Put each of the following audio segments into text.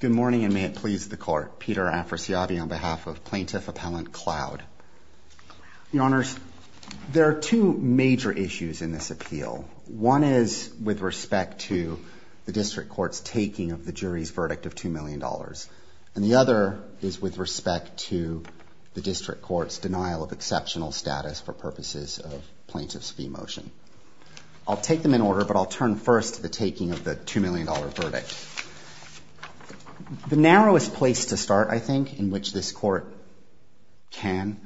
Good morning, and may it please the Court. Peter Afrasiabi on behalf of Plaintiff Appellant Cloud. Your Honors, there are two major issues in this appeal. One is with respect to the District Court's taking of the jury's verdict of $2 million. And the other is with respect to the District Court's denial of exceptional status for purposes of Plaintiff's fee motion. I'll take them in order, but I'll turn first to the taking of the $2 million verdict. The narrowest place to start, I think, in which this Court can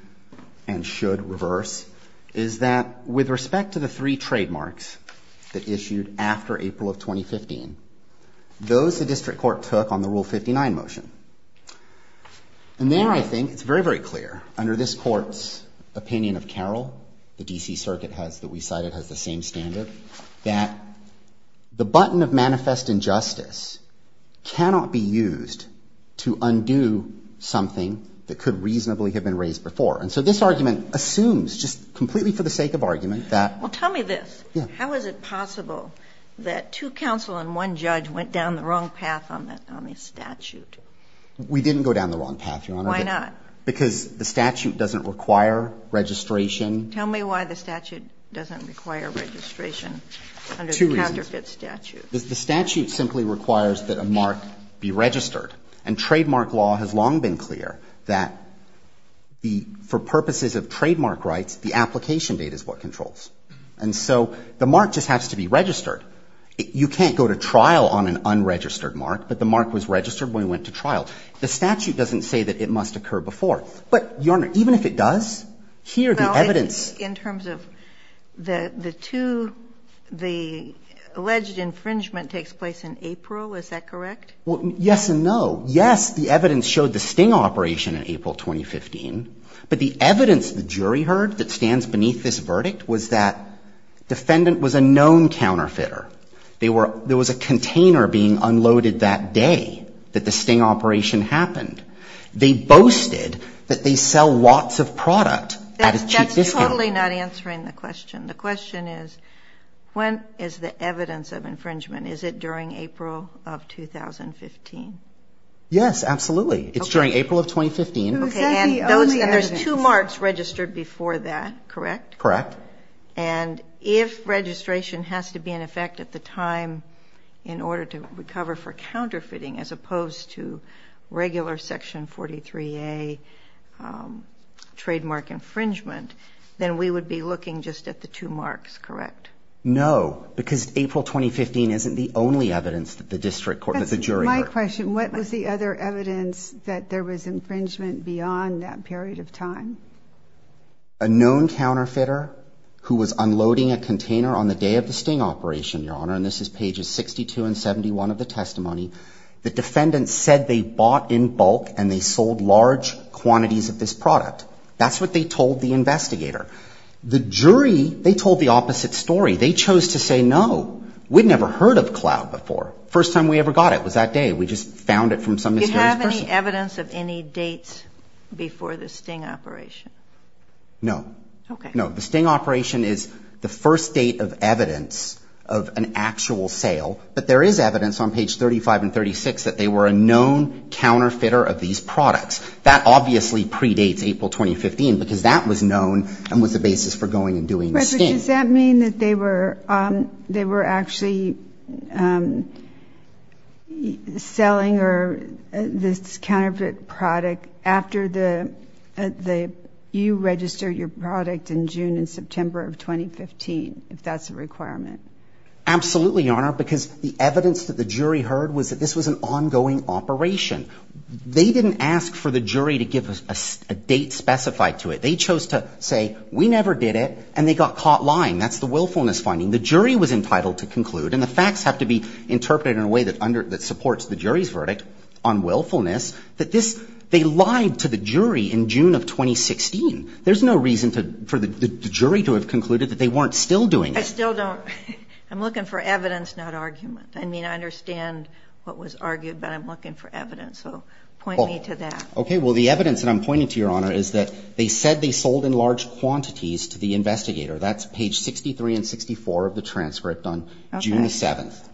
and should reverse, is that with respect to the three trademarks that issued after April of 2015, those the District Court took on the Rule 59 motion. And there, I think, it's very, very clear, under this Court's opinion of Carroll, the D.C. Circuit has that we cited has the same standard, that the button of manifest injustice cannot be used to undo something that could reasonably have been raised before. And so this argument assumes, just completely for the sake of argument, that ---- Well, tell me this. Yeah. How is it possible that two counsel and one judge went down the wrong path on the statute? We didn't go down the wrong path, Your Honor. Why not? Because the statute doesn't require registration. Tell me why the statute doesn't require registration under the counterfeit statute. Two reasons. The statute simply requires that a mark be registered. And trademark law has long been clear that the ---- for purposes of trademark rights, the application date is what controls. And so the mark just has to be registered. You can't go to trial on an unregistered mark. But the mark was registered when we went to trial. The statute doesn't say that it must occur before. But, Your Honor, even if it does, here the evidence ---- Well, in terms of the two, the alleged infringement takes place in April. Is that correct? Well, yes and no. Yes, the evidence showed the sting operation in April 2015. But the evidence the jury heard that stands beneath this verdict was that defendant was a known counterfeiter. They were ---- there was a container being unloaded that day that the sting operation happened. They boasted that they sell lots of product at a cheap discount. That's totally not answering the question. The question is when is the evidence of infringement? Is it during April of 2015? Yes, absolutely. Okay. It's during April of 2015. Okay. And there's two marks registered before that, correct? Correct. And if registration has to be in effect at the time in order to recover for counterfeiting as opposed to regular Section 43A trademark infringement, then we would be looking just at the two marks, correct? No, because April 2015 isn't the only evidence that the district court, that the jury heard. I have a question. What was the other evidence that there was infringement beyond that period of time? A known counterfeiter who was unloading a container on the day of the sting operation, Your Honor, and this is pages 62 and 71 of the testimony, the defendant said they bought in bulk and they sold large quantities of this product. That's what they told the investigator. The jury, they told the opposite story. They chose to say no. We'd never heard of cloud before. First time we ever got it was that day. We just found it from some mysterious person. Do you have any evidence of any dates before the sting operation? No. Okay. No. The sting operation is the first date of evidence of an actual sale, but there is evidence on page 35 and 36 that they were a known counterfeiter of these products. That obviously predates April 2015 because that was known and was the basis for going and doing the sting. But does that mean that they were, um, they were actually, um, selling or this counterfeit product after the, you registered your product in June and September of 2015, if that's a requirement. Absolutely, Your Honor, because the evidence that the jury heard was that this was an ongoing operation. They didn't ask for the jury to give us a date specified to it. They chose to say, we never did it. And they got caught lying. That's the willfulness finding the jury was entitled to conclude. And the facts have to be interpreted in a way that under that supports the jury's verdict on willfulness. That this, they lied to the jury in June of 2016. There's no reason to, for the jury to have concluded that they weren't still doing it. I still don't. I'm looking for evidence, not argument. I mean, I understand what was argued, but I'm looking for evidence. So point me to that. Okay. Well, the evidence that I'm pointing to, Your Honor, is that they said they sold in large quantities to the investigator. That's page 63 and 64 of the transcript on June 7th.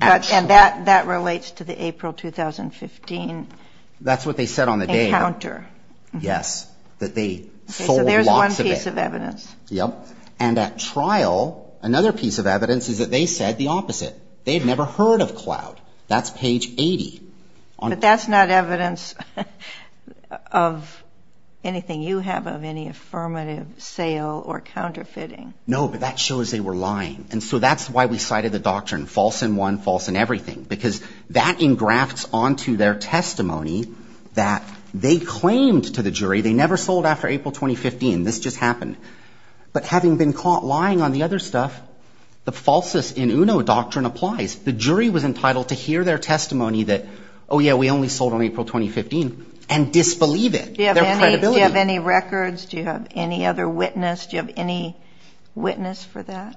And that relates to the April 2015 encounter. That's what they said on the day. Yes, that they sold lots of it. So there's one piece of evidence. Yep. And at trial, another piece of evidence is that they said the opposite. They had never heard of cloud. That's page 80. But that's not evidence. Of anything you have of any affirmative sale or counterfeiting. No, but that shows they were lying. And so that's why we cited the doctrine false in one, false in everything. Because that engrafts onto their testimony that they claimed to the jury they never sold after April 2015. This just happened. But having been caught lying on the other stuff, the falsest in UNO doctrine applies. The jury was entitled to hear their testimony that, oh, yeah, we only sold on April 2015 and disbelieve it. Their credibility. Do you have any records? Do you have any other witness? Do you have any witness for that?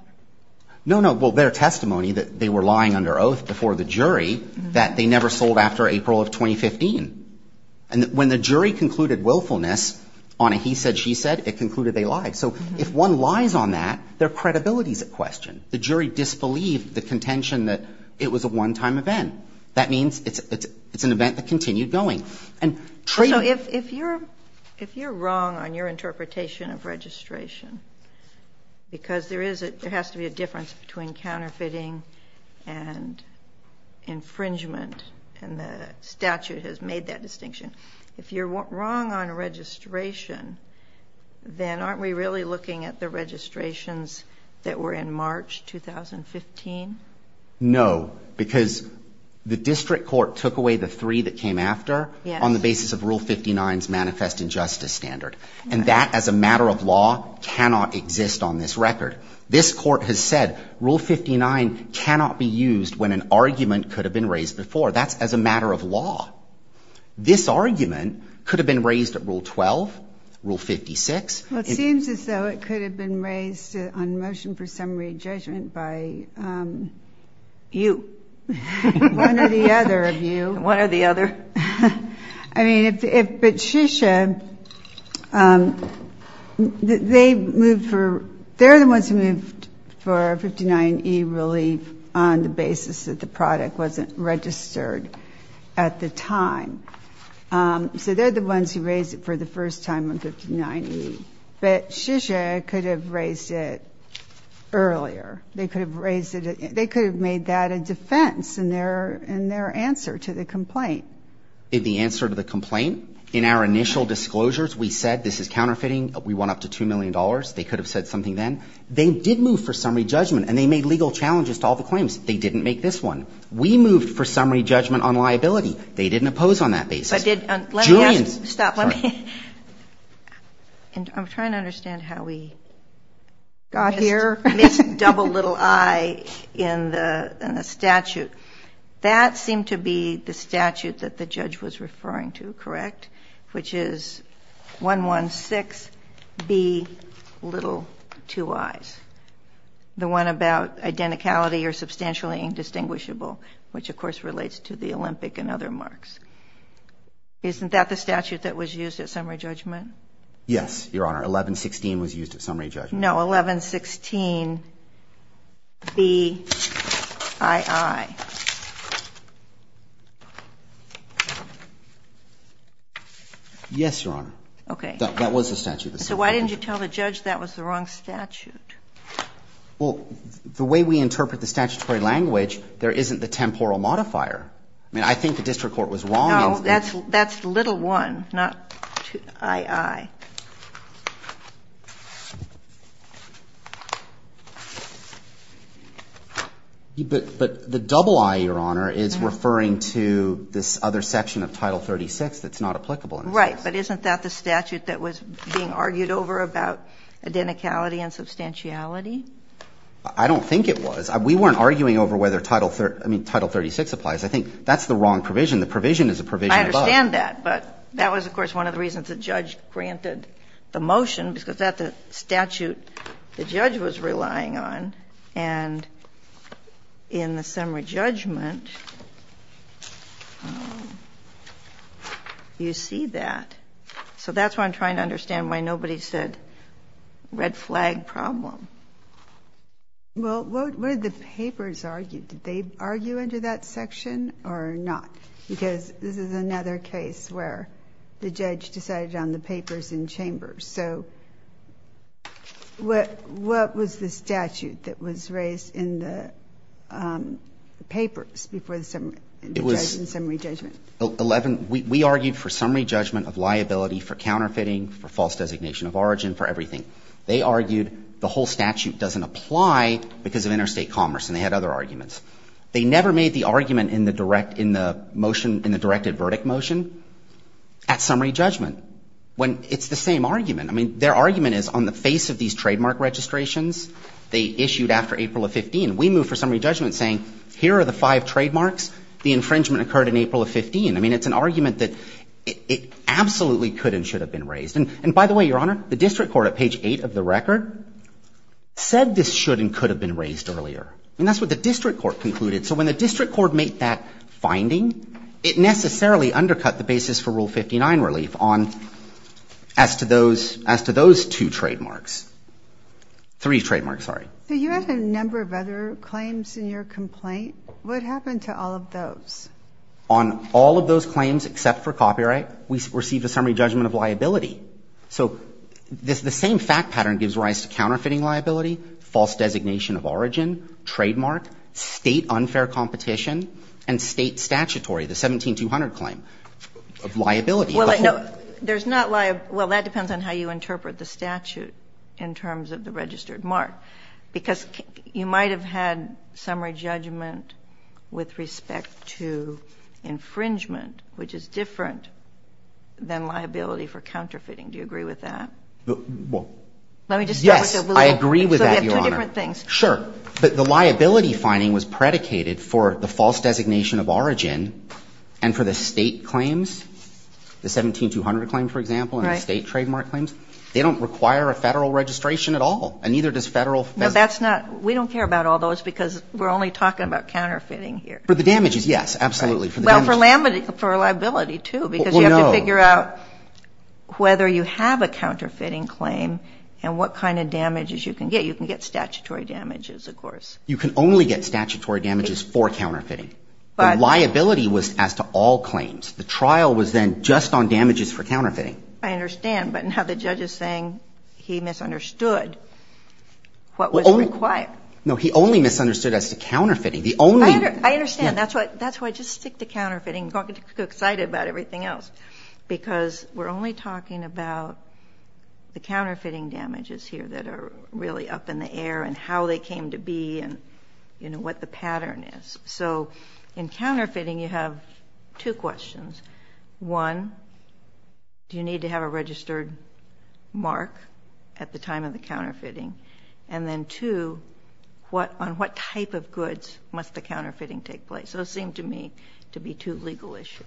No, no. Well, their testimony that they were lying under oath before the jury that they never sold after April of 2015. And when the jury concluded willfulness on a he said, she said, it concluded they lied. So if one lies on that, their credibility is at question. The jury disbelieved the contention that it was a one-time event. That means it's an event that continued going. So if you're wrong on your interpretation of registration, because there has to be a difference between counterfeiting and infringement and the statute has made that distinction, if you're wrong on registration, then aren't we really looking at the registrations that were in March 2015? No, because the district court took away the three that came after on the basis of Rule 59's manifest injustice standard. And that as a matter of law cannot exist on this record. This court has said Rule 59 cannot be used when an argument could have been raised before. That's as a matter of law. This argument could have been raised at Rule 12, Rule 56. Well, it seems as though it could have been raised on motion for summary judgment by you. One or the other of you. One or the other. I mean, but Shisha, they moved for, they're the ones who moved for a 59E relief on the basis that the product wasn't registered at the time. So they're the ones who raised it for the first time on 59E. But Shisha could have raised it earlier. They could have raised it, they could have made that a defense in their, in their answer to the complaint. In the answer to the complaint, in our initial disclosures, we said this is counterfeiting. We want up to $2 million. They could have said something then. They did move for summary judgment, and they made legal challenges to all the claims. They didn't make this one. We moved for summary judgment on liability. They didn't oppose on that basis. But did, let me ask, stop, let me. I'm trying to understand how we got here. Missed double little I in the statute. That seemed to be the statute that the judge was referring to, correct? Which is 116B, little two I's. The one about identicality or substantially indistinguishable, which of course relates to the Olympic and other marks. Isn't that the statute that was used at summary judgment? Yes, Your Honor. 1116 was used at summary judgment. No, 1116BII. Yes, Your Honor. Okay. That was the statute. So why didn't you tell the judge that was the wrong statute? Well, the way we interpret the statutory language, there isn't the temporal modifier. I mean, I think the district court was wrong. No, that's little one, not II. But the double I, Your Honor, is referring to this other section of Title 36 that's not applicable. Right, but isn't that the statute that was being argued over about identicality and substantiality? I don't think it was. We weren't arguing over whether Title 36 applies. I think that's the wrong provision. The provision is a provision above. I understand that. But that was, of course, one of the reasons the judge granted the motion because that's the statute the judge was relying on. And in the summary judgment, you see that. So that's why I'm trying to understand why nobody said red flag problem. Well, what did the papers argue? Did they argue under that section or not? Because this is another case where the judge decided on the papers in chambers. So what was the statute that was raised in the papers before the summary judgment? It was 11. We argued for summary judgment of liability for counterfeiting, for false designation of origin, for everything. They argued the whole statute doesn't apply because of interstate commerce, and they had other arguments. They never made the argument in the direct, in the motion, in the directed verdict motion at summary judgment, when it's the same argument. I mean, their argument is on the face of these trademark registrations, they issued after April of 15. We moved for summary judgment saying here are the five trademarks. The infringement occurred in April of 15. I mean, it's an argument that it absolutely could and should have been raised. And by the way, Your Honor, the district court at page 8 of the record said this should and could have been raised earlier. And that's what the district court concluded. So when the district court made that finding, it necessarily undercut the basis for Rule 59 relief on as to those, as to those two trademarks. Three trademarks, sorry. So you had a number of other claims in your complaint. What happened to all of those? On all of those claims except for copyright, we received a summary judgment of liability. So the same fact pattern gives rise to counterfeiting liability, false designation of origin, trademark, State unfair competition and State statutory, the 17200 claim of liability. There's not liability. Well, that depends on how you interpret the statute in terms of the registered mark, because you might have had summary judgment with respect to infringement, which is different than liability for counterfeiting. Do you agree with that? Well, yes. I agree with that, Your Honor. So you have two different things. Sure. But the liability finding was predicated for the false designation of origin and for the State claims, the 17200 claim, for example, and the State trademark claims. They don't require a Federal registration at all, and neither does Federal. Well, that's not we don't care about all those because we're only talking about counterfeiting here. For the damages, yes, absolutely. Well, for liability, too, because you have to figure out whether you have a counterfeiting claim and what kind of damages you can get. You can get statutory damages, of course. You can only get statutory damages for counterfeiting. The liability was as to all claims. The trial was then just on damages for counterfeiting. I understand. But now the judge is saying he misunderstood what was required. No, he only misunderstood as to counterfeiting. The only one. I understand. That's why I just stick to counterfeiting. I'm excited about everything else because we're only talking about the counterfeiting damages here that are really up in the air and how they came to be and, you know, what the pattern is. So in counterfeiting, you have two questions. One, do you need to have a registered mark at the time of the counterfeiting? And then, two, on what type of goods must the counterfeiting take place? Those seem to me to be two legal issues.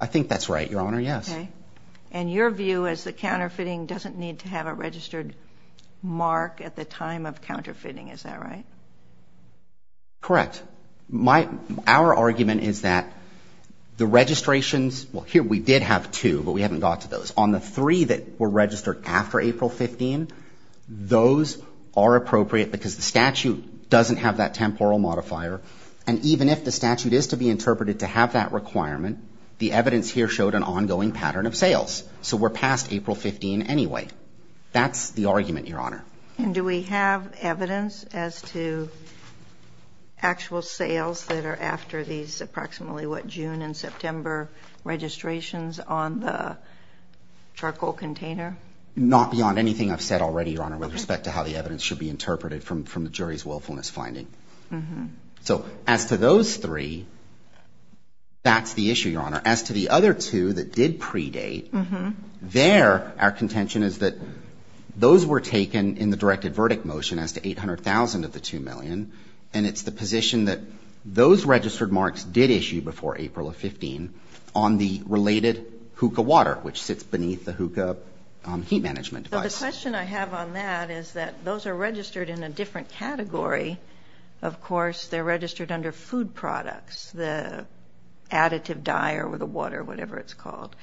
I think that's right, Your Honor, yes. Okay. And your view is the counterfeiting doesn't need to have a registered mark at the time of counterfeiting. Is that right? Correct. Our argument is that the registrations, well, here we did have two, but we haven't got to those. On the three that were registered after April 15, those are appropriate because the statute doesn't have that temporal modifier. And even if the statute is to be interpreted to have that requirement, the evidence here showed an ongoing pattern of sales. So we're past April 15 anyway. That's the argument, Your Honor. And do we have evidence as to actual sales that are after these approximately what, June and September registrations on the charcoal container? Not beyond anything I've said already, Your Honor, with respect to how the evidence should be interpreted from the jury's willfulness finding. So as to those three, that's the issue, Your Honor. As to the other two that did predate, there our contention is that those were taken in the directed verdict motion as to $800,000 of the $2 million, and it's the position that those registered marks did issue before April of 15 on the related hookah water, which sits beneath the hookah heat management device. The question I have on that is that those are registered in a different category. Of course, they're registered under food products, the additive dye or the water, whatever it's called,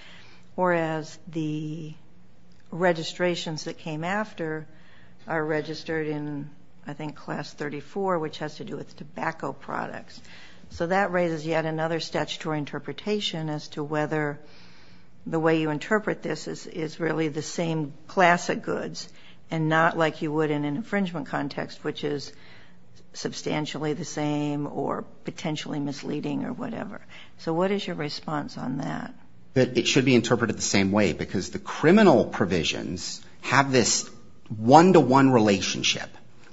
whereas the registrations that came after are tobacco products. So that raises yet another statutory interpretation as to whether the way you interpret this is really the same class of goods and not like you would in an infringement context, which is substantially the same or potentially misleading or whatever. So what is your response on that? It should be interpreted the same way, because the criminal provisions have this one-to-one relationship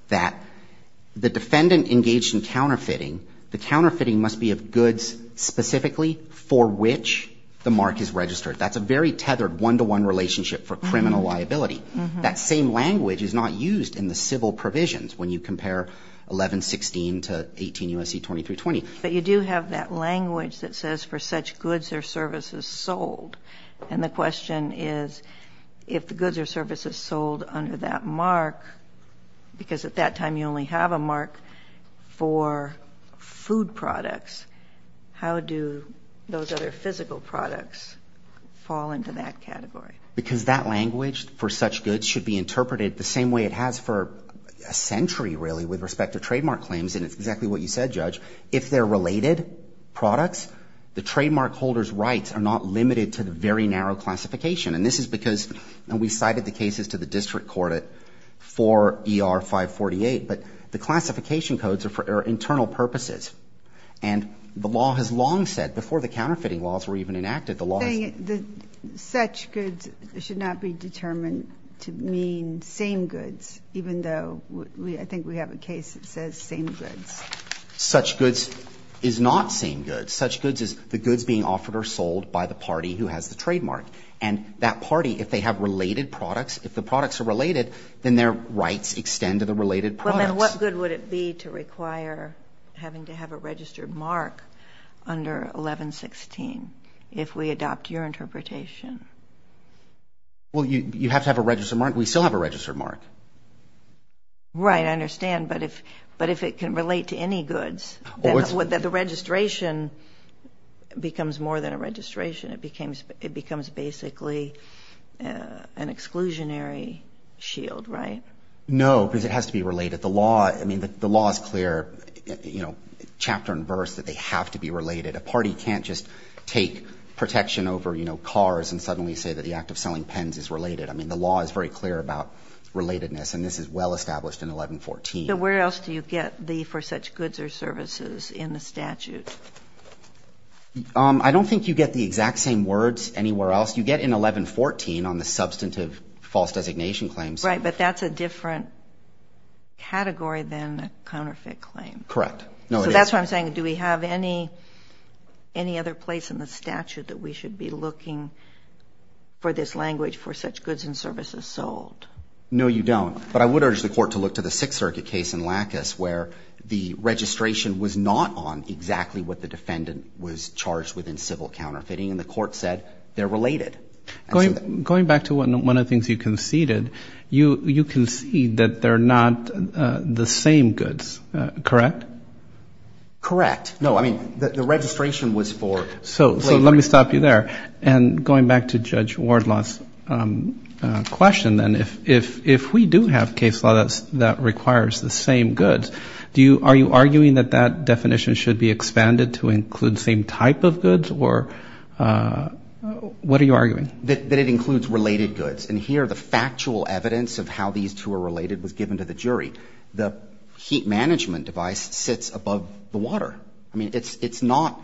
that the defendant engaged in counterfeiting, the counterfeiting must be of goods specifically for which the mark is registered. That's a very tethered one-to-one relationship for criminal liability. That same language is not used in the civil provisions when you compare 1116 to 18 U.S.C. 2320. But you do have that language that says for such goods or services sold, and the question is if the goods or services sold under that mark, because at that time you only have a mark for food products, how do those other physical products fall into that category? Because that language for such goods should be interpreted the same way it has for a century, really, with respect to trademark claims, and it's exactly what you said, Judge. If they're related products, the trademark holder's rights are not limited to very narrow classification. And this is because, and we cited the cases to the district court at 4 ER 548, but the classification codes are for internal purposes. And the law has long said, before the counterfeiting laws were even enacted, the law has said that such goods should not be determined to mean same goods, even though I think we have a case that says same goods. Such goods is not same goods. Such goods is the goods being offered or sold by the party who has the trademark. And that party, if they have related products, if the products are related, then their rights extend to the related products. Well, then what good would it be to require having to have a registered mark under 1116 if we adopt your interpretation? Well, you have to have a registered mark. We still have a registered mark. Right. I understand. But if it can relate to any goods, the registration becomes more than a registration. It becomes basically an exclusionary shield, right? No, because it has to be related. The law is clear, chapter and verse, that they have to be related. A party can't just take protection over cars and suddenly say that the act of selling pens is related. I mean, the law is very clear about relatedness, and this is well established in 1114. But where else do you get the for such goods or services in the statute? I don't think you get the exact same words anywhere else. You get in 1114 on the substantive false designation claims. Right, but that's a different category than a counterfeit claim. Correct. So that's why I'm saying do we have any other place in the statute that we should be looking for this language for such goods and services sold? No, you don't. But I would urge the court to look to the Sixth Circuit case in Lackas where the registration was not on exactly what the defendant was charged with in civil counterfeiting, and the court said they're related. Going back to one of the things you conceded, you concede that they're not the same goods, correct? Correct. No, I mean, the registration was for later. So let me stop you there. And going back to Judge Wardlaw's question, then, if we do have case law that requires the same goods, are you arguing that that definition should be expanded to include the same type of goods, or what are you arguing? That it includes related goods. And here the factual evidence of how these two are related was given to the jury. The heat management device sits above the water. I mean, it's not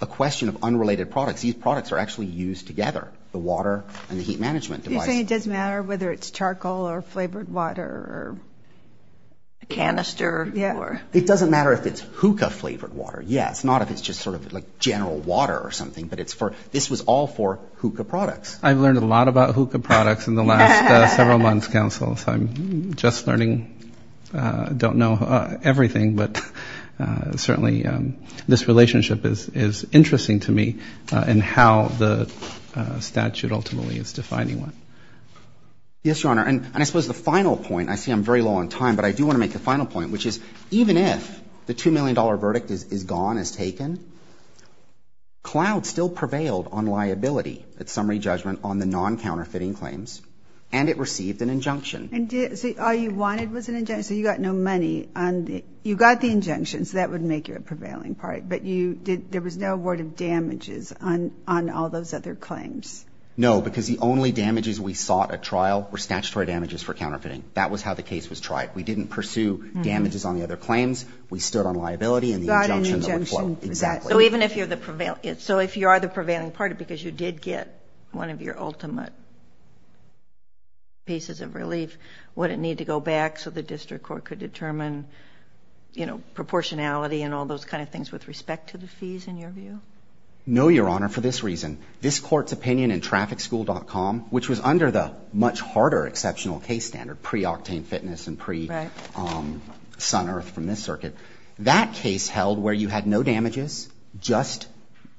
a question of unrelated products. These products are actually used together, the water and the heat management device. Are you saying it doesn't matter whether it's charcoal or flavored water or a canister? It doesn't matter if it's hookah-flavored water. Yes, not if it's just sort of like general water or something, but this was all for hookah products. I've learned a lot about hookah products in the last several months, Counsel, so I'm just learning. I don't know everything, but certainly this relationship is interesting to me in how the statute ultimately is defining one. Yes, Your Honor. And I suppose the final point, I see I'm very low on time, but I do want to make the final point, which is even if the $2 million verdict is gone, is taken, Cloud still prevailed on liability at summary judgment on the non-counterfeiting claims, and it received an injunction. So all you wanted was an injunction, so you got no money. You got the injunction, so that would make you a prevailing party, but there was no word of damages on all those other claims. No, because the only damages we sought at trial were statutory damages for counterfeiting. That was how the case was tried. We didn't pursue damages on the other claims. We stood on liability and the injunction that would flow. Exactly. So even if you're the prevailing party, because you did get one of your ultimate pieces of relief, would it need to go back so the district court could determine, you know, proportionality and all those kind of things with respect to the fees, in your view? No, Your Honor, for this reason. This Court's opinion in TrafficSchool.com, which was under the much harder exceptional case standard, pre-Octane Fitness and pre-Sun Earth from this circuit, that case held where you had no damages, just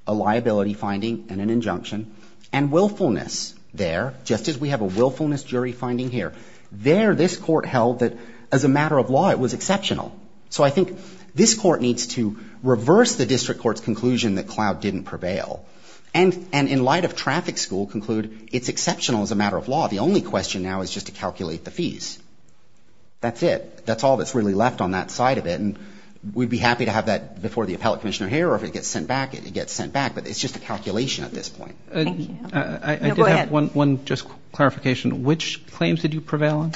a liability finding and an injunction, and willfulness there, just as we have a willfulness jury finding here. There this Court held that as a matter of law it was exceptional. So I think this Court needs to reverse the district court's conclusion that Cloud didn't prevail and in light of TrafficSchool conclude it's exceptional as a matter of law. The only question now is just to calculate the fees. That's it. That's all that's really left on that side of it. And we'd be happy to have that before the appellate commissioner here or if it gets sent back, it gets sent back, but it's just a calculation at this point. Thank you. No, go ahead. I did have one just clarification. Which claims did you prevail on?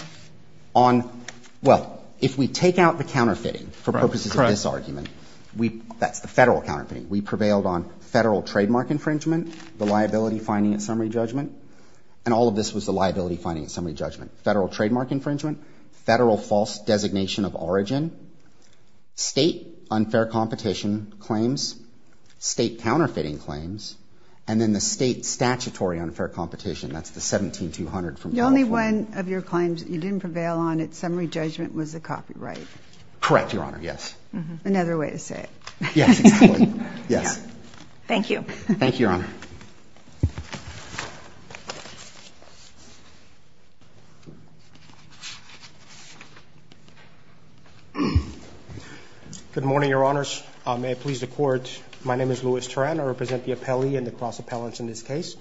On, well, if we take out the counterfeiting for purposes of this argument, that's the Federal counterfeiting. We prevailed on Federal trademark infringement, the liability finding and summary judgment, and all of this was the liability finding and summary judgment. Federal trademark infringement, Federal false designation of origin, State unfair competition claims, State counterfeiting claims, and then the State statutory unfair competition. That's the 17-200 from California. The only one of your claims that you didn't prevail on at summary judgment was the copyright. Correct, Your Honor, yes. Another way to say it. Yes. Thank you. Thank you, Your Honor. Good morning, Your Honors. May it please the Court. My name is Louis Turan. I represent the appellee and the cross-appellants in this case.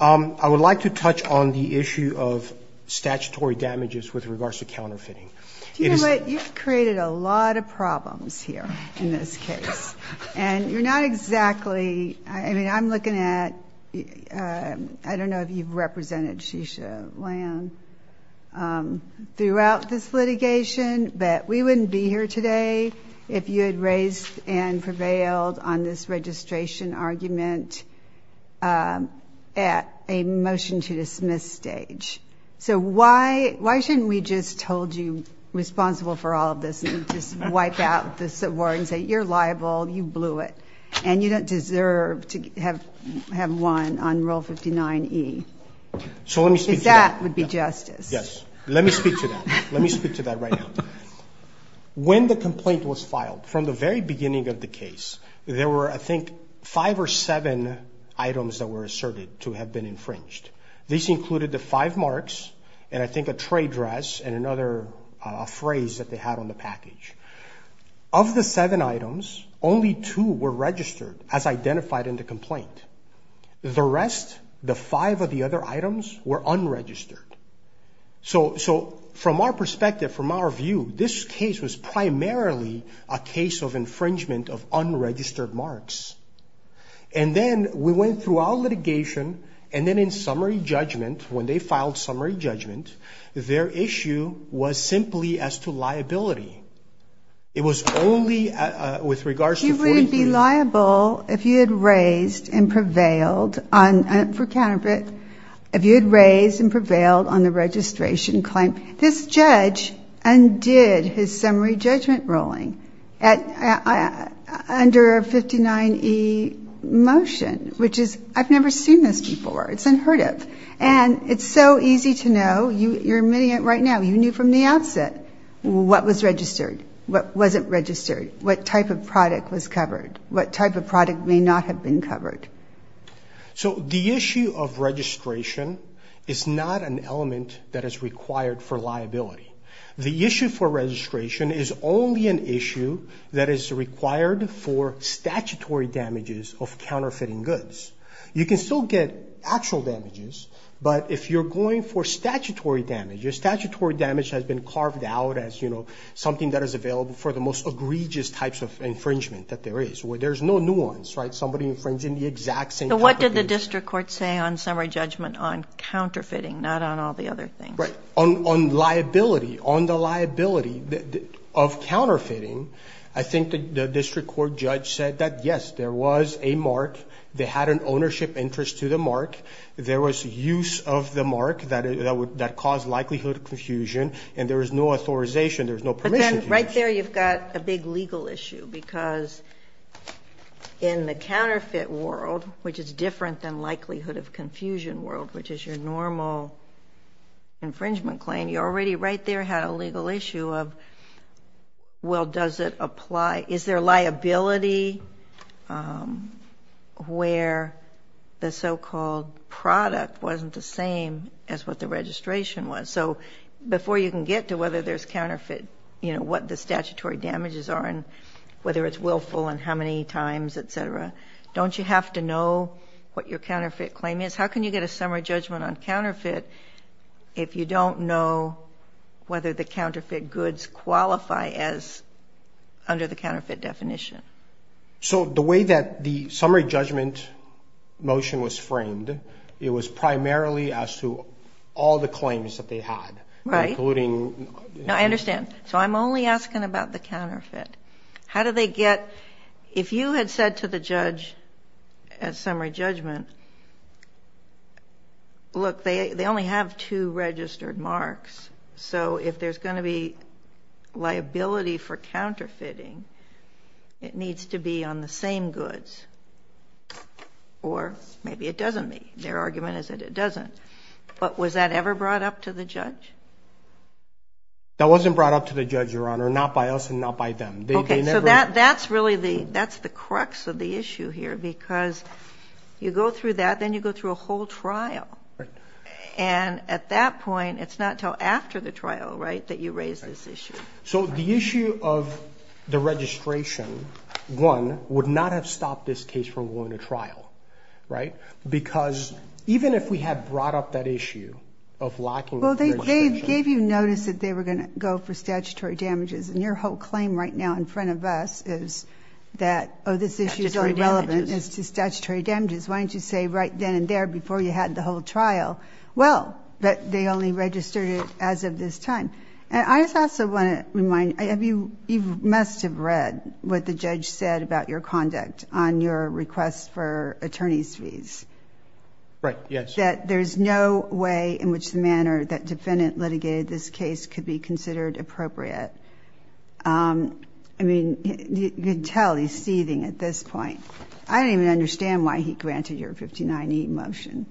I would like to touch on the issue of statutory damages with regards to counterfeiting. Do you know what? You've created a lot of problems here in this case. And you're not exactly, I mean, I'm looking at, I don't know if you've represented Shisha Land throughout this litigation, but we wouldn't be here today if you had raised and prevailed on this registration argument at a motion to dismiss stage. So why shouldn't we just hold you responsible for all of this and just wipe out this award and say you're liable, you blew it, and you don't deserve to have won on Rule 59E? So let me speak to that. Because that would be justice. Yes. Let me speak to that. Let me speak to that right now. When the complaint was filed, from the very beginning of the case, there were, I think, five or seven items that were asserted to have been infringed. These included the five marks and, I think, a trade dress and another phrase that they had on the package. Of the seven items, only two were registered as identified in the complaint. The rest, the five of the other items, were unregistered. So from our perspective, from our view, this case was primarily a case of infringement of unregistered marks. And then we went throughout litigation, and then in summary judgment, when they filed summary judgment, their issue was simply as to liability. It was only with regards to 43. It was liable if you had raised and prevailed on the registration claim. This judge undid his summary judgment ruling under a 59E motion, which is, I've never seen this before. It's unheard of. And it's so easy to know. You're admitting it right now. You knew from the outset what was registered, what wasn't registered, what type of product was covered, what type of product may not have been covered. So the issue of registration is not an element that is required for liability. The issue for registration is only an issue that is required for statutory damages of counterfeiting goods. You can still get actual damages, but if you're going for statutory damage, your statutory damage has been carved out as, you know, something that is available for the most egregious types of infringement that there is, where there's no nuance, right, somebody infringing the exact same type of goods. But what did the district court say on summary judgment on counterfeiting, not on all the other things? Right. On liability, on the liability of counterfeiting, I think the district court judge said that, yes, there was a mark. They had an ownership interest to the mark. There was use of the mark that caused likelihood of confusion, and there was no authorization. There was no permission. But then right there you've got a big legal issue because in the counterfeit world, which is different than likelihood of confusion world, which is your normal infringement claim, you already right there had a legal issue of, well, does it apply? Is there liability where the so-called product wasn't the same as what the registration was? So before you can get to whether there's counterfeit, you know, what the statutory damages are and whether it's willful and how many times, et cetera, don't you have to know what your counterfeit claim is? How can you get a summary judgment on counterfeit if you don't know whether the counterfeit goods qualify as under the counterfeit definition? So the way that the summary judgment motion was framed, it was primarily as to all the claims that they had. Right. Now, I understand. So I'm only asking about the counterfeit. How do they get ‑‑ if you had said to the judge at summary judgment, look, they only have two registered marks. So if there's going to be liability for counterfeiting, it needs to be on the same goods. Or maybe it doesn't be. Their argument is that it doesn't. But was that ever brought up to the judge? That wasn't brought up to the judge, Your Honor, not by us and not by them. Okay. So that's really the ‑‑ that's the crux of the issue here because you go through that, then you go through a whole trial. Right. And at that point, it's not until after the trial, right, that you raise this issue. So the issue of the registration, one, would not have stopped this case from going to trial. Right? Because even if we had brought up that issue of lacking registration ‑‑ Well, they gave you notice that they were going to go for statutory damages. And your whole claim right now in front of us is that, oh, this issue is irrelevant. Statutory damages. It's the statutory damages. Why didn't you say right then and there before you had the whole trial? Well, they only registered it as of this time. And I just also want to remind ‑‑ you must have read what the judge said about your conduct on your request for attorney's fees. Right. Yes. That there's no way in which the manner that defendant litigated this case could be considered appropriate. I mean, you can tell he's seething at this point. I don't even understand why he granted your 59E motion.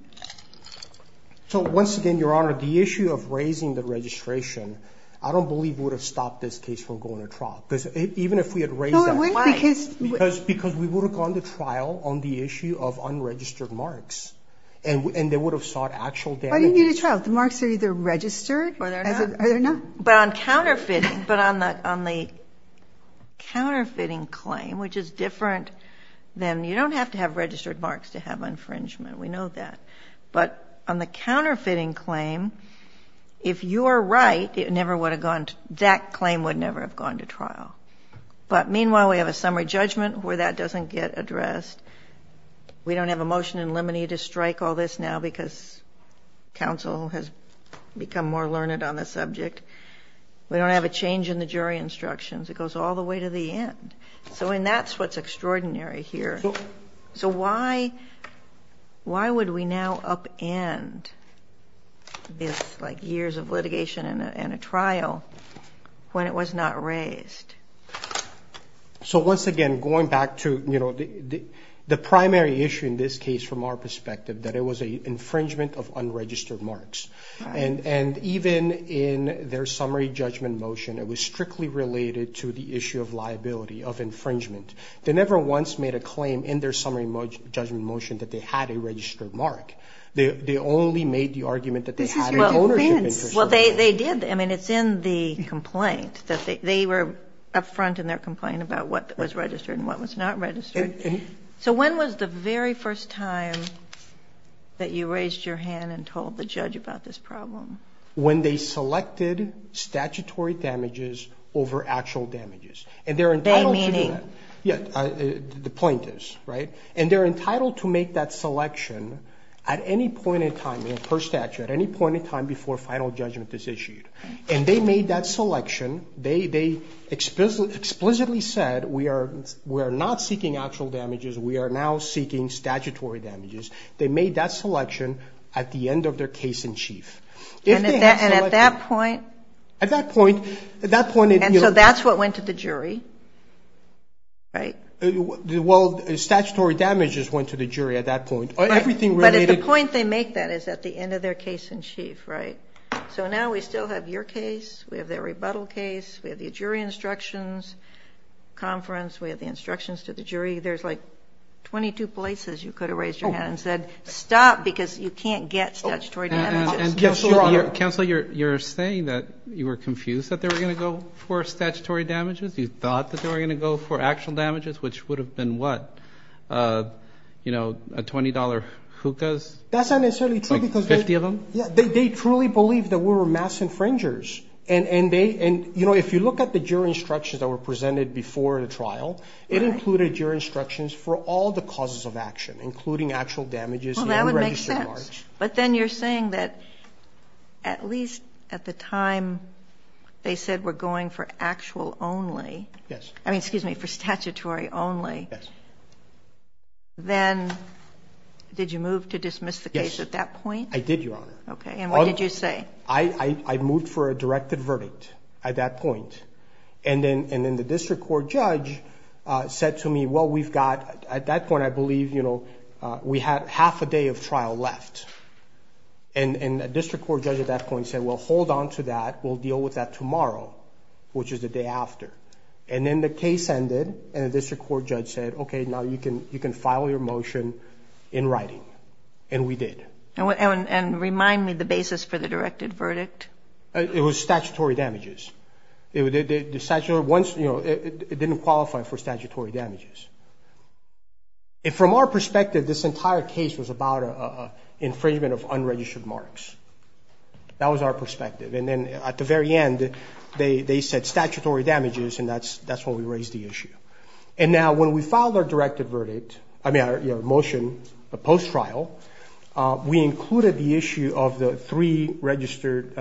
So once again, Your Honor, the issue of raising the registration, I don't believe would have stopped this case from going to trial. Because even if we had raised that ‑‑ No, it wouldn't because ‑‑ Because we would have gone to trial on the issue of unregistered marks. And they would have sought actual damages. Why do you need a trial? The marks are either registered or they're not. But on counterfeiting, but on the counterfeiting claim, which is different than ‑‑ you don't have to have registered marks to have infringement. We know that. But on the counterfeiting claim, if you are right, it never would have gone to ‑‑ that claim would never have gone to trial. But meanwhile, we have a summary judgment where that doesn't get addressed. We don't have a motion in limine to strike all this now because counsel has become more learned on the subject. We don't have a change in the jury instructions. It goes all the way to the end. And that's what's extraordinary here. So why would we now upend this like years of litigation and a trial when it was not raised? So once again, going back to the primary issue in this case from our perspective, that it was an infringement of unregistered marks. And even in their summary judgment motion, it was strictly related to the issue of liability, of infringement. They never once made a claim in their summary judgment motion that they had a registered mark. They only made the argument that they had an ownership infringement. Well, they did. I mean, it's in the complaint. They were up front in their complaint about what was registered and what was not registered. So when was the very first time that you raised your hand and told the judge about this problem? When they selected statutory damages over actual damages. And they're entitled to do that. By meaning? The point is, right? And they're entitled to make that selection at any point in time, per statute, at any point in time before a final judgment is issued. And they made that selection. They explicitly said, we are not seeking actual damages. We are now seeking statutory damages. They made that selection at the end of their case in chief. And at that point? At that point, at that point. And so that's what went to the jury, right? Well, statutory damages went to the jury at that point. Right. Everything related. But at the point they make that is at the end of their case in chief, right? So now we still have your case. We have the rebuttal case. We have the jury instructions conference. We have the instructions to the jury. There's like 22 places you could have raised your hand and said, stop, because you can't get statutory damages. Counselor, you're saying that you were confused that they were going to go for statutory damages? You thought that they were going to go for actual damages, which would have been what? You know, a $20 hookahs? That's not necessarily true. Fifty of them? They truly believed that we were mass infringers. And, you know, if you look at the jury instructions that were presented before the trial, it included your instructions for all the causes of action, including actual damages. Well, that would make sense. But then you're saying that at least at the time they said we're going for actual only. Yes. I mean, excuse me, for statutory only. Yes. Then did you move to dismiss the case at that point? I did, Your Honor. Okay. And what did you say? I moved for a directed verdict at that point. And then the district court judge said to me, well, we've got, at that point, I believe, you know, we have half a day of trial left. And the district court judge at that point said, well, hold on to that. We'll deal with that tomorrow, which is the day after. And then the case ended, and the district court judge said, okay, now you can file your motion in writing. And we did. And remind me the basis for the directed verdict. It was statutory damages. It didn't qualify for statutory damages. And from our perspective, this entire case was about an infringement of unregistered marks. That was our perspective. And then at the very end, they said statutory damages, and that's when we raised the issue. And now when we filed our directed verdict, I mean our motion, a post-trial, we included the issue of the three registered,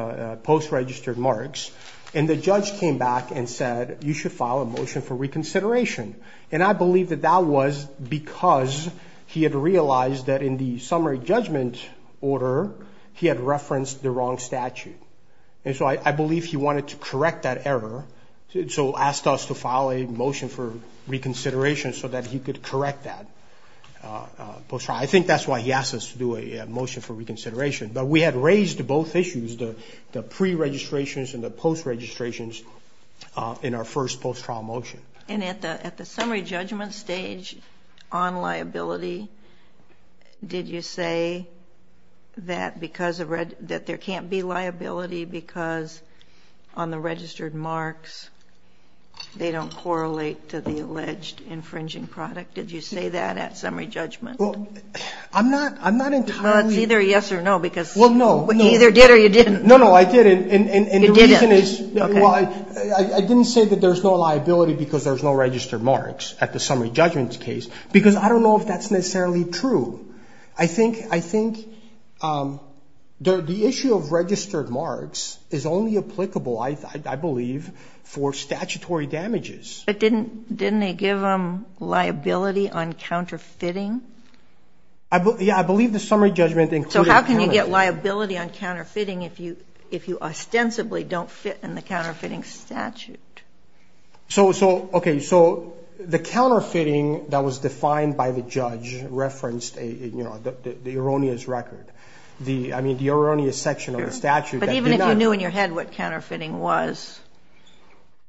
post-registered marks. And the judge came back and said you should file a motion for reconsideration. And I believe that that was because he had realized that in the summary judgment order, he had referenced the wrong statute. And so I believe he wanted to correct that error, so asked us to file a motion for reconsideration so that he could correct that post-trial. I think that's why he asked us to do a motion for reconsideration. But we had raised both issues, the pre-registrations and the post-registrations in our first post-trial motion. And at the summary judgment stage on liability, did you say that there can't be liability because on the registered marks, they don't correlate to the alleged infringing product? Did you say that at summary judgment? Well, I'm not entirely ---- Well, it's either yes or no because you either did or you didn't. No, no, I didn't. And the reason is I didn't say that there's no liability because there's no registered marks at the summary judgment case because I don't know if that's necessarily true. I think the issue of registered marks is only applicable, I believe, for statutory damages. But didn't they give them liability on counterfeiting? Yeah, I believe the summary judgment included counterfeiting. So how can you get liability on counterfeiting if you ostensibly don't fit in the counterfeiting statute? Okay, so the counterfeiting that was defined by the judge referenced the erroneous record, I mean, the erroneous section of the statute. But even if you knew in your head what counterfeiting was,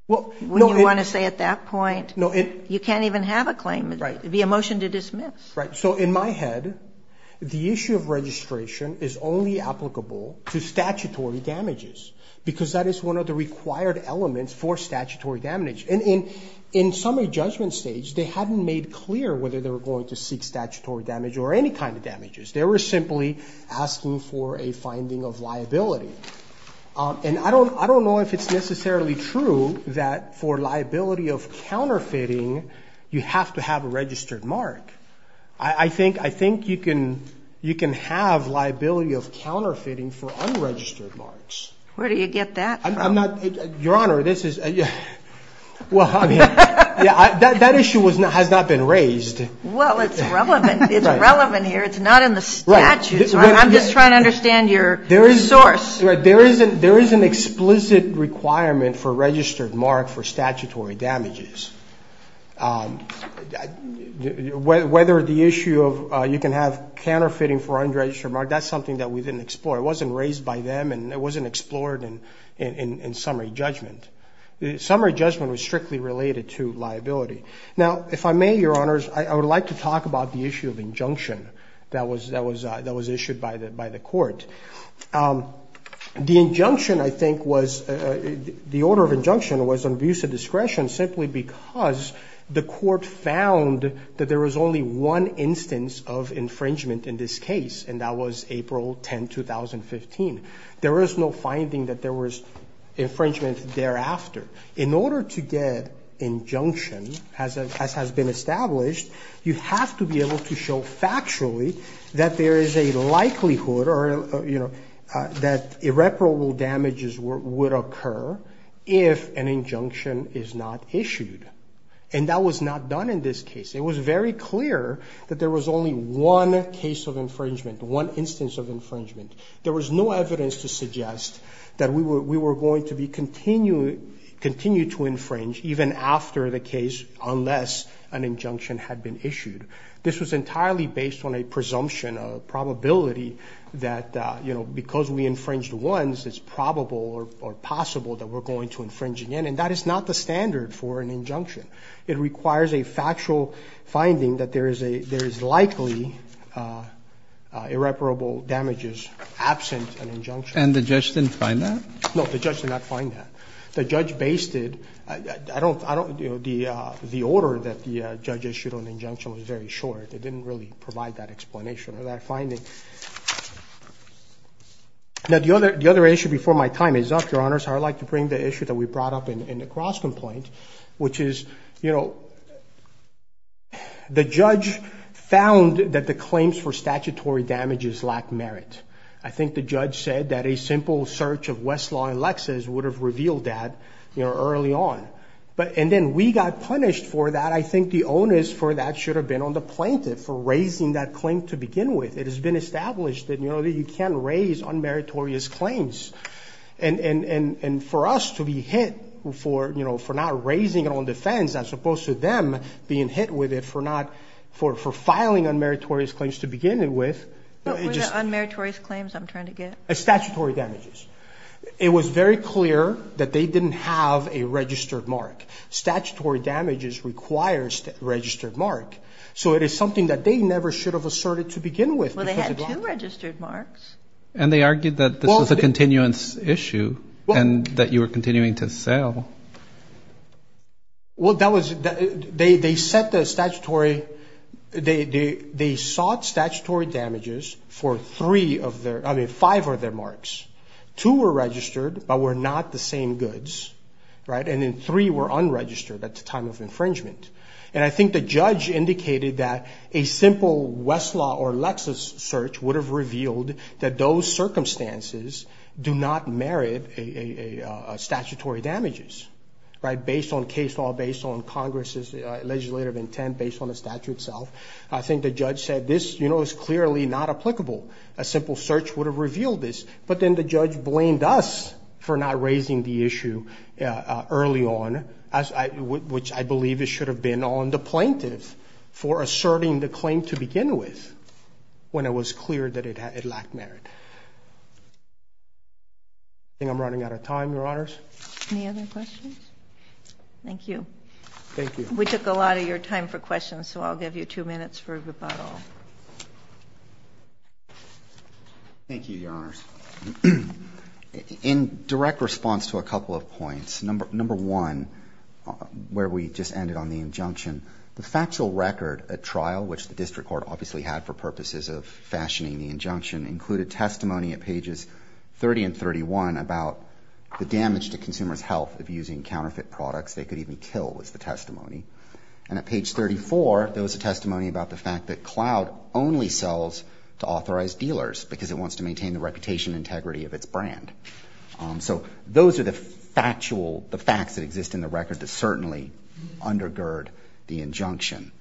wouldn't you want to say at that point you can't even have a claim? Right. It would be a motion to dismiss. Right. So in my head, the issue of registration is only applicable to statutory damages because that is one of the required elements for statutory damage. And in summary judgment stage, they hadn't made clear whether they were going to seek statutory damage or any kind of damages. They were simply asking for a finding of liability. And I don't know if it's necessarily true that for liability of counterfeiting you have to have a registered mark. I think you can have liability of counterfeiting for unregistered marks. Where do you get that from? Your Honor, this is ñ well, I mean, that issue has not been raised. Well, it's relevant. It's relevant here. It's not in the statute. I'm just trying to understand your source. There is an explicit requirement for a registered mark for statutory damages. Whether the issue of you can have counterfeiting for unregistered marks, that's something that we didn't explore. It wasn't raised by them and it wasn't explored in summary judgment. Summary judgment was strictly related to liability. Now, if I may, Your Honors, I would like to talk about the issue of injunction that was issued by the court. The injunction, I think, was ñ the order of injunction was on abuse of discretion simply because the court found that there was only one instance of infringement in this case, and that was April 10, 2015. There was no finding that there was infringement thereafter. In order to get injunction, as has been established, you have to be able to show factually that there is a likelihood or, you know, that irreparable damages would occur if an injunction is not issued. And that was not done in this case. It was very clear that there was only one case of infringement, one instance of infringement. There was no evidence to suggest that we were going to continue to infringe even after the case unless an injunction had been issued. This was entirely based on a presumption, a probability that, you know, because we infringed once, it's probable or possible that we're going to infringe again. And that is not the standard for an injunction. It requires a factual finding that there is a ñ there is likely irreparable damages absent an injunction. And the judge didn't find that? No, the judge did not find that. The judge based it ñ I don't ñ you know, the order that the judge issued on injunction was very short. It didn't really provide that explanation or that finding. Now, the other issue before my time is up, Your Honors. I would like to bring the issue that we brought up in the cross-complaint, which is, you know, the judge found that the claims for statutory damages lacked merit. I think the judge said that a simple search of Westlaw and Lexis would have revealed that, you know, early on. And then we got punished for that. And I think the onus for that should have been on the plaintiff for raising that claim to begin with. It has been established that, you know, that you can't raise unmeritorious claims. And for us to be hit for, you know, for not raising it on defense as opposed to them being hit with it for not ñ for filing unmeritorious claims to begin with ñ What were the unmeritorious claims I'm trying to get? Statutory damages. It was very clear that they didn't have a registered mark. Statutory damages requires a registered mark. So it is something that they never should have asserted to begin with. Well, they had two registered marks. And they argued that this was a continuance issue and that you were continuing to sell. Well, that was ñ they set the statutory ñ they sought statutory damages for three of their ñ I mean, five of their marks. Two were registered but were not the same goods, right? And then three were unregistered at the time of infringement. And I think the judge indicated that a simple Westlaw or Lexis search would have revealed that those circumstances do not merit statutory damages, right, based on case law, based on Congressís legislative intent, based on the statute itself. I think the judge said this, you know, is clearly not applicable. A simple search would have revealed this. But then the judge blamed us for not raising the issue early on, which I believe it should have been on the plaintiffs for asserting the claim to begin with when it was clear that it lacked merit. I think I'm running out of time, Your Honors. Any other questions? Thank you. Thank you. We took a lot of your time for questions, so I'll give you two minutes for rebuttal. Thank you, Your Honors. In direct response to a couple of points, number one, where we just ended on the injunction, the factual record at trial, which the district court obviously had for purposes of fashioning the injunction, included testimony at pages 30 and 31 about the damage to consumersí health of using counterfeit products they could even kill was the testimony. And at page 34, there was a testimony about the fact that Cloud only sells to authorized dealers because it wants to maintain the reputation and integrity of its brand. So those are the factual, the facts that exist in the record that certainly undergird the injunction.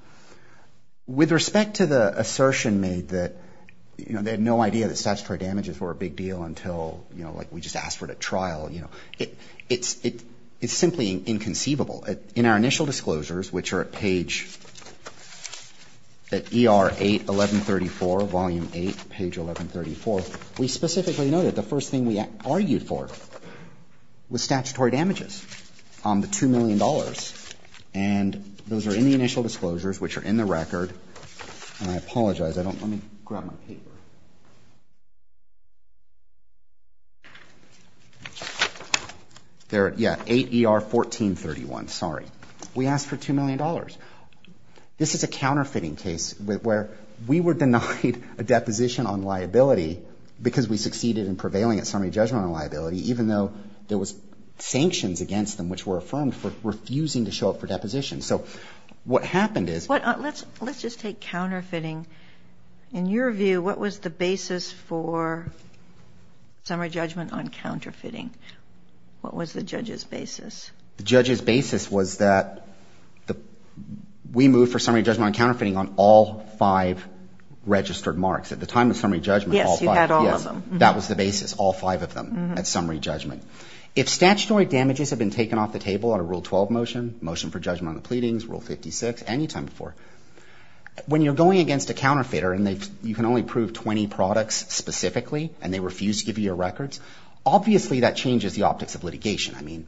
With respect to the assertion made that, you know, they had no idea that statutory damages were a big deal until, you know, like we just asked for it at trial, you know, it's simply inconceivable. In our initial disclosures, which are at page, at ER 81134, volume 8, page 1134, we specifically noted the first thing we argued for was statutory damages on the $2 million. And those are in the initial disclosures, which are in the record. And I apologize. I don't ñ let me grab my paper. There, yeah, 8 ER 1431. Sorry. We asked for $2 million. This is a counterfeiting case where we were denied a deposition on liability because we succeeded in prevailing at summary judgment on liability, even though there was sanctions against them which were affirmed for refusing to show up for deposition. So what happened is ñ Let's just take counterfeiting. In your view, what was the basis for summary judgment on counterfeiting? What was the judge's basis? The judge's basis was that we moved for summary judgment on counterfeiting on all five registered marks. At the time of summary judgment, all five. Yes, you had all of them. Yes. That was the basis, all five of them at summary judgment. If statutory damages have been taken off the table on a Rule 12 motion, motion for judgment on the pleadings, Rule 56, any time before, when you're going against a counterfeiter and you can only prove 20 products specifically and they refuse to give you your records, obviously that changes the optics of litigation. I mean,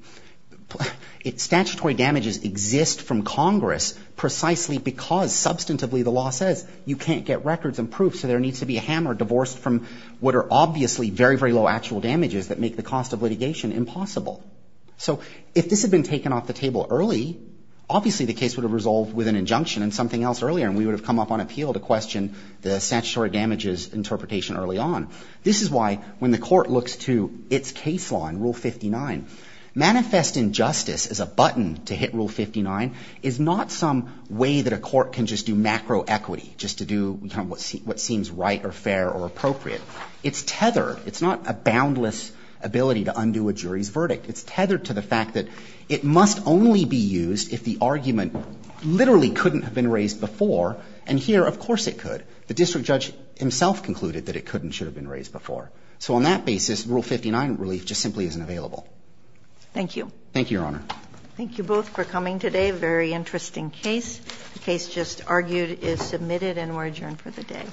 statutory damages exist from Congress precisely because substantively the law says you can't get records and proofs, so there needs to be a hammer divorced from what are obviously very, very low actual damages that make the cost of litigation impossible. So if this had been taken off the table early, obviously the case would have resolved with an injunction and something else earlier and we would have come up on appeal to question the statutory damages interpretation early on. This is why when the court looks to its case law in Rule 59, manifest injustice as a button to hit Rule 59 is not some way that a court can just do macro equity, just to do what seems right or fair or appropriate. It's tethered. It's not a boundless ability to undo a jury's verdict. It's tethered to the fact that it must only be used if the argument literally couldn't have been raised before, and here of course it could. The district judge himself concluded that it couldn't, should have been raised before. So on that basis, Rule 59 relief just simply isn't available. Thank you. Thank you, Your Honor. Thank you both for coming today. A very interesting case. The case just argued is submitted and we're adjourned for the day. All rise.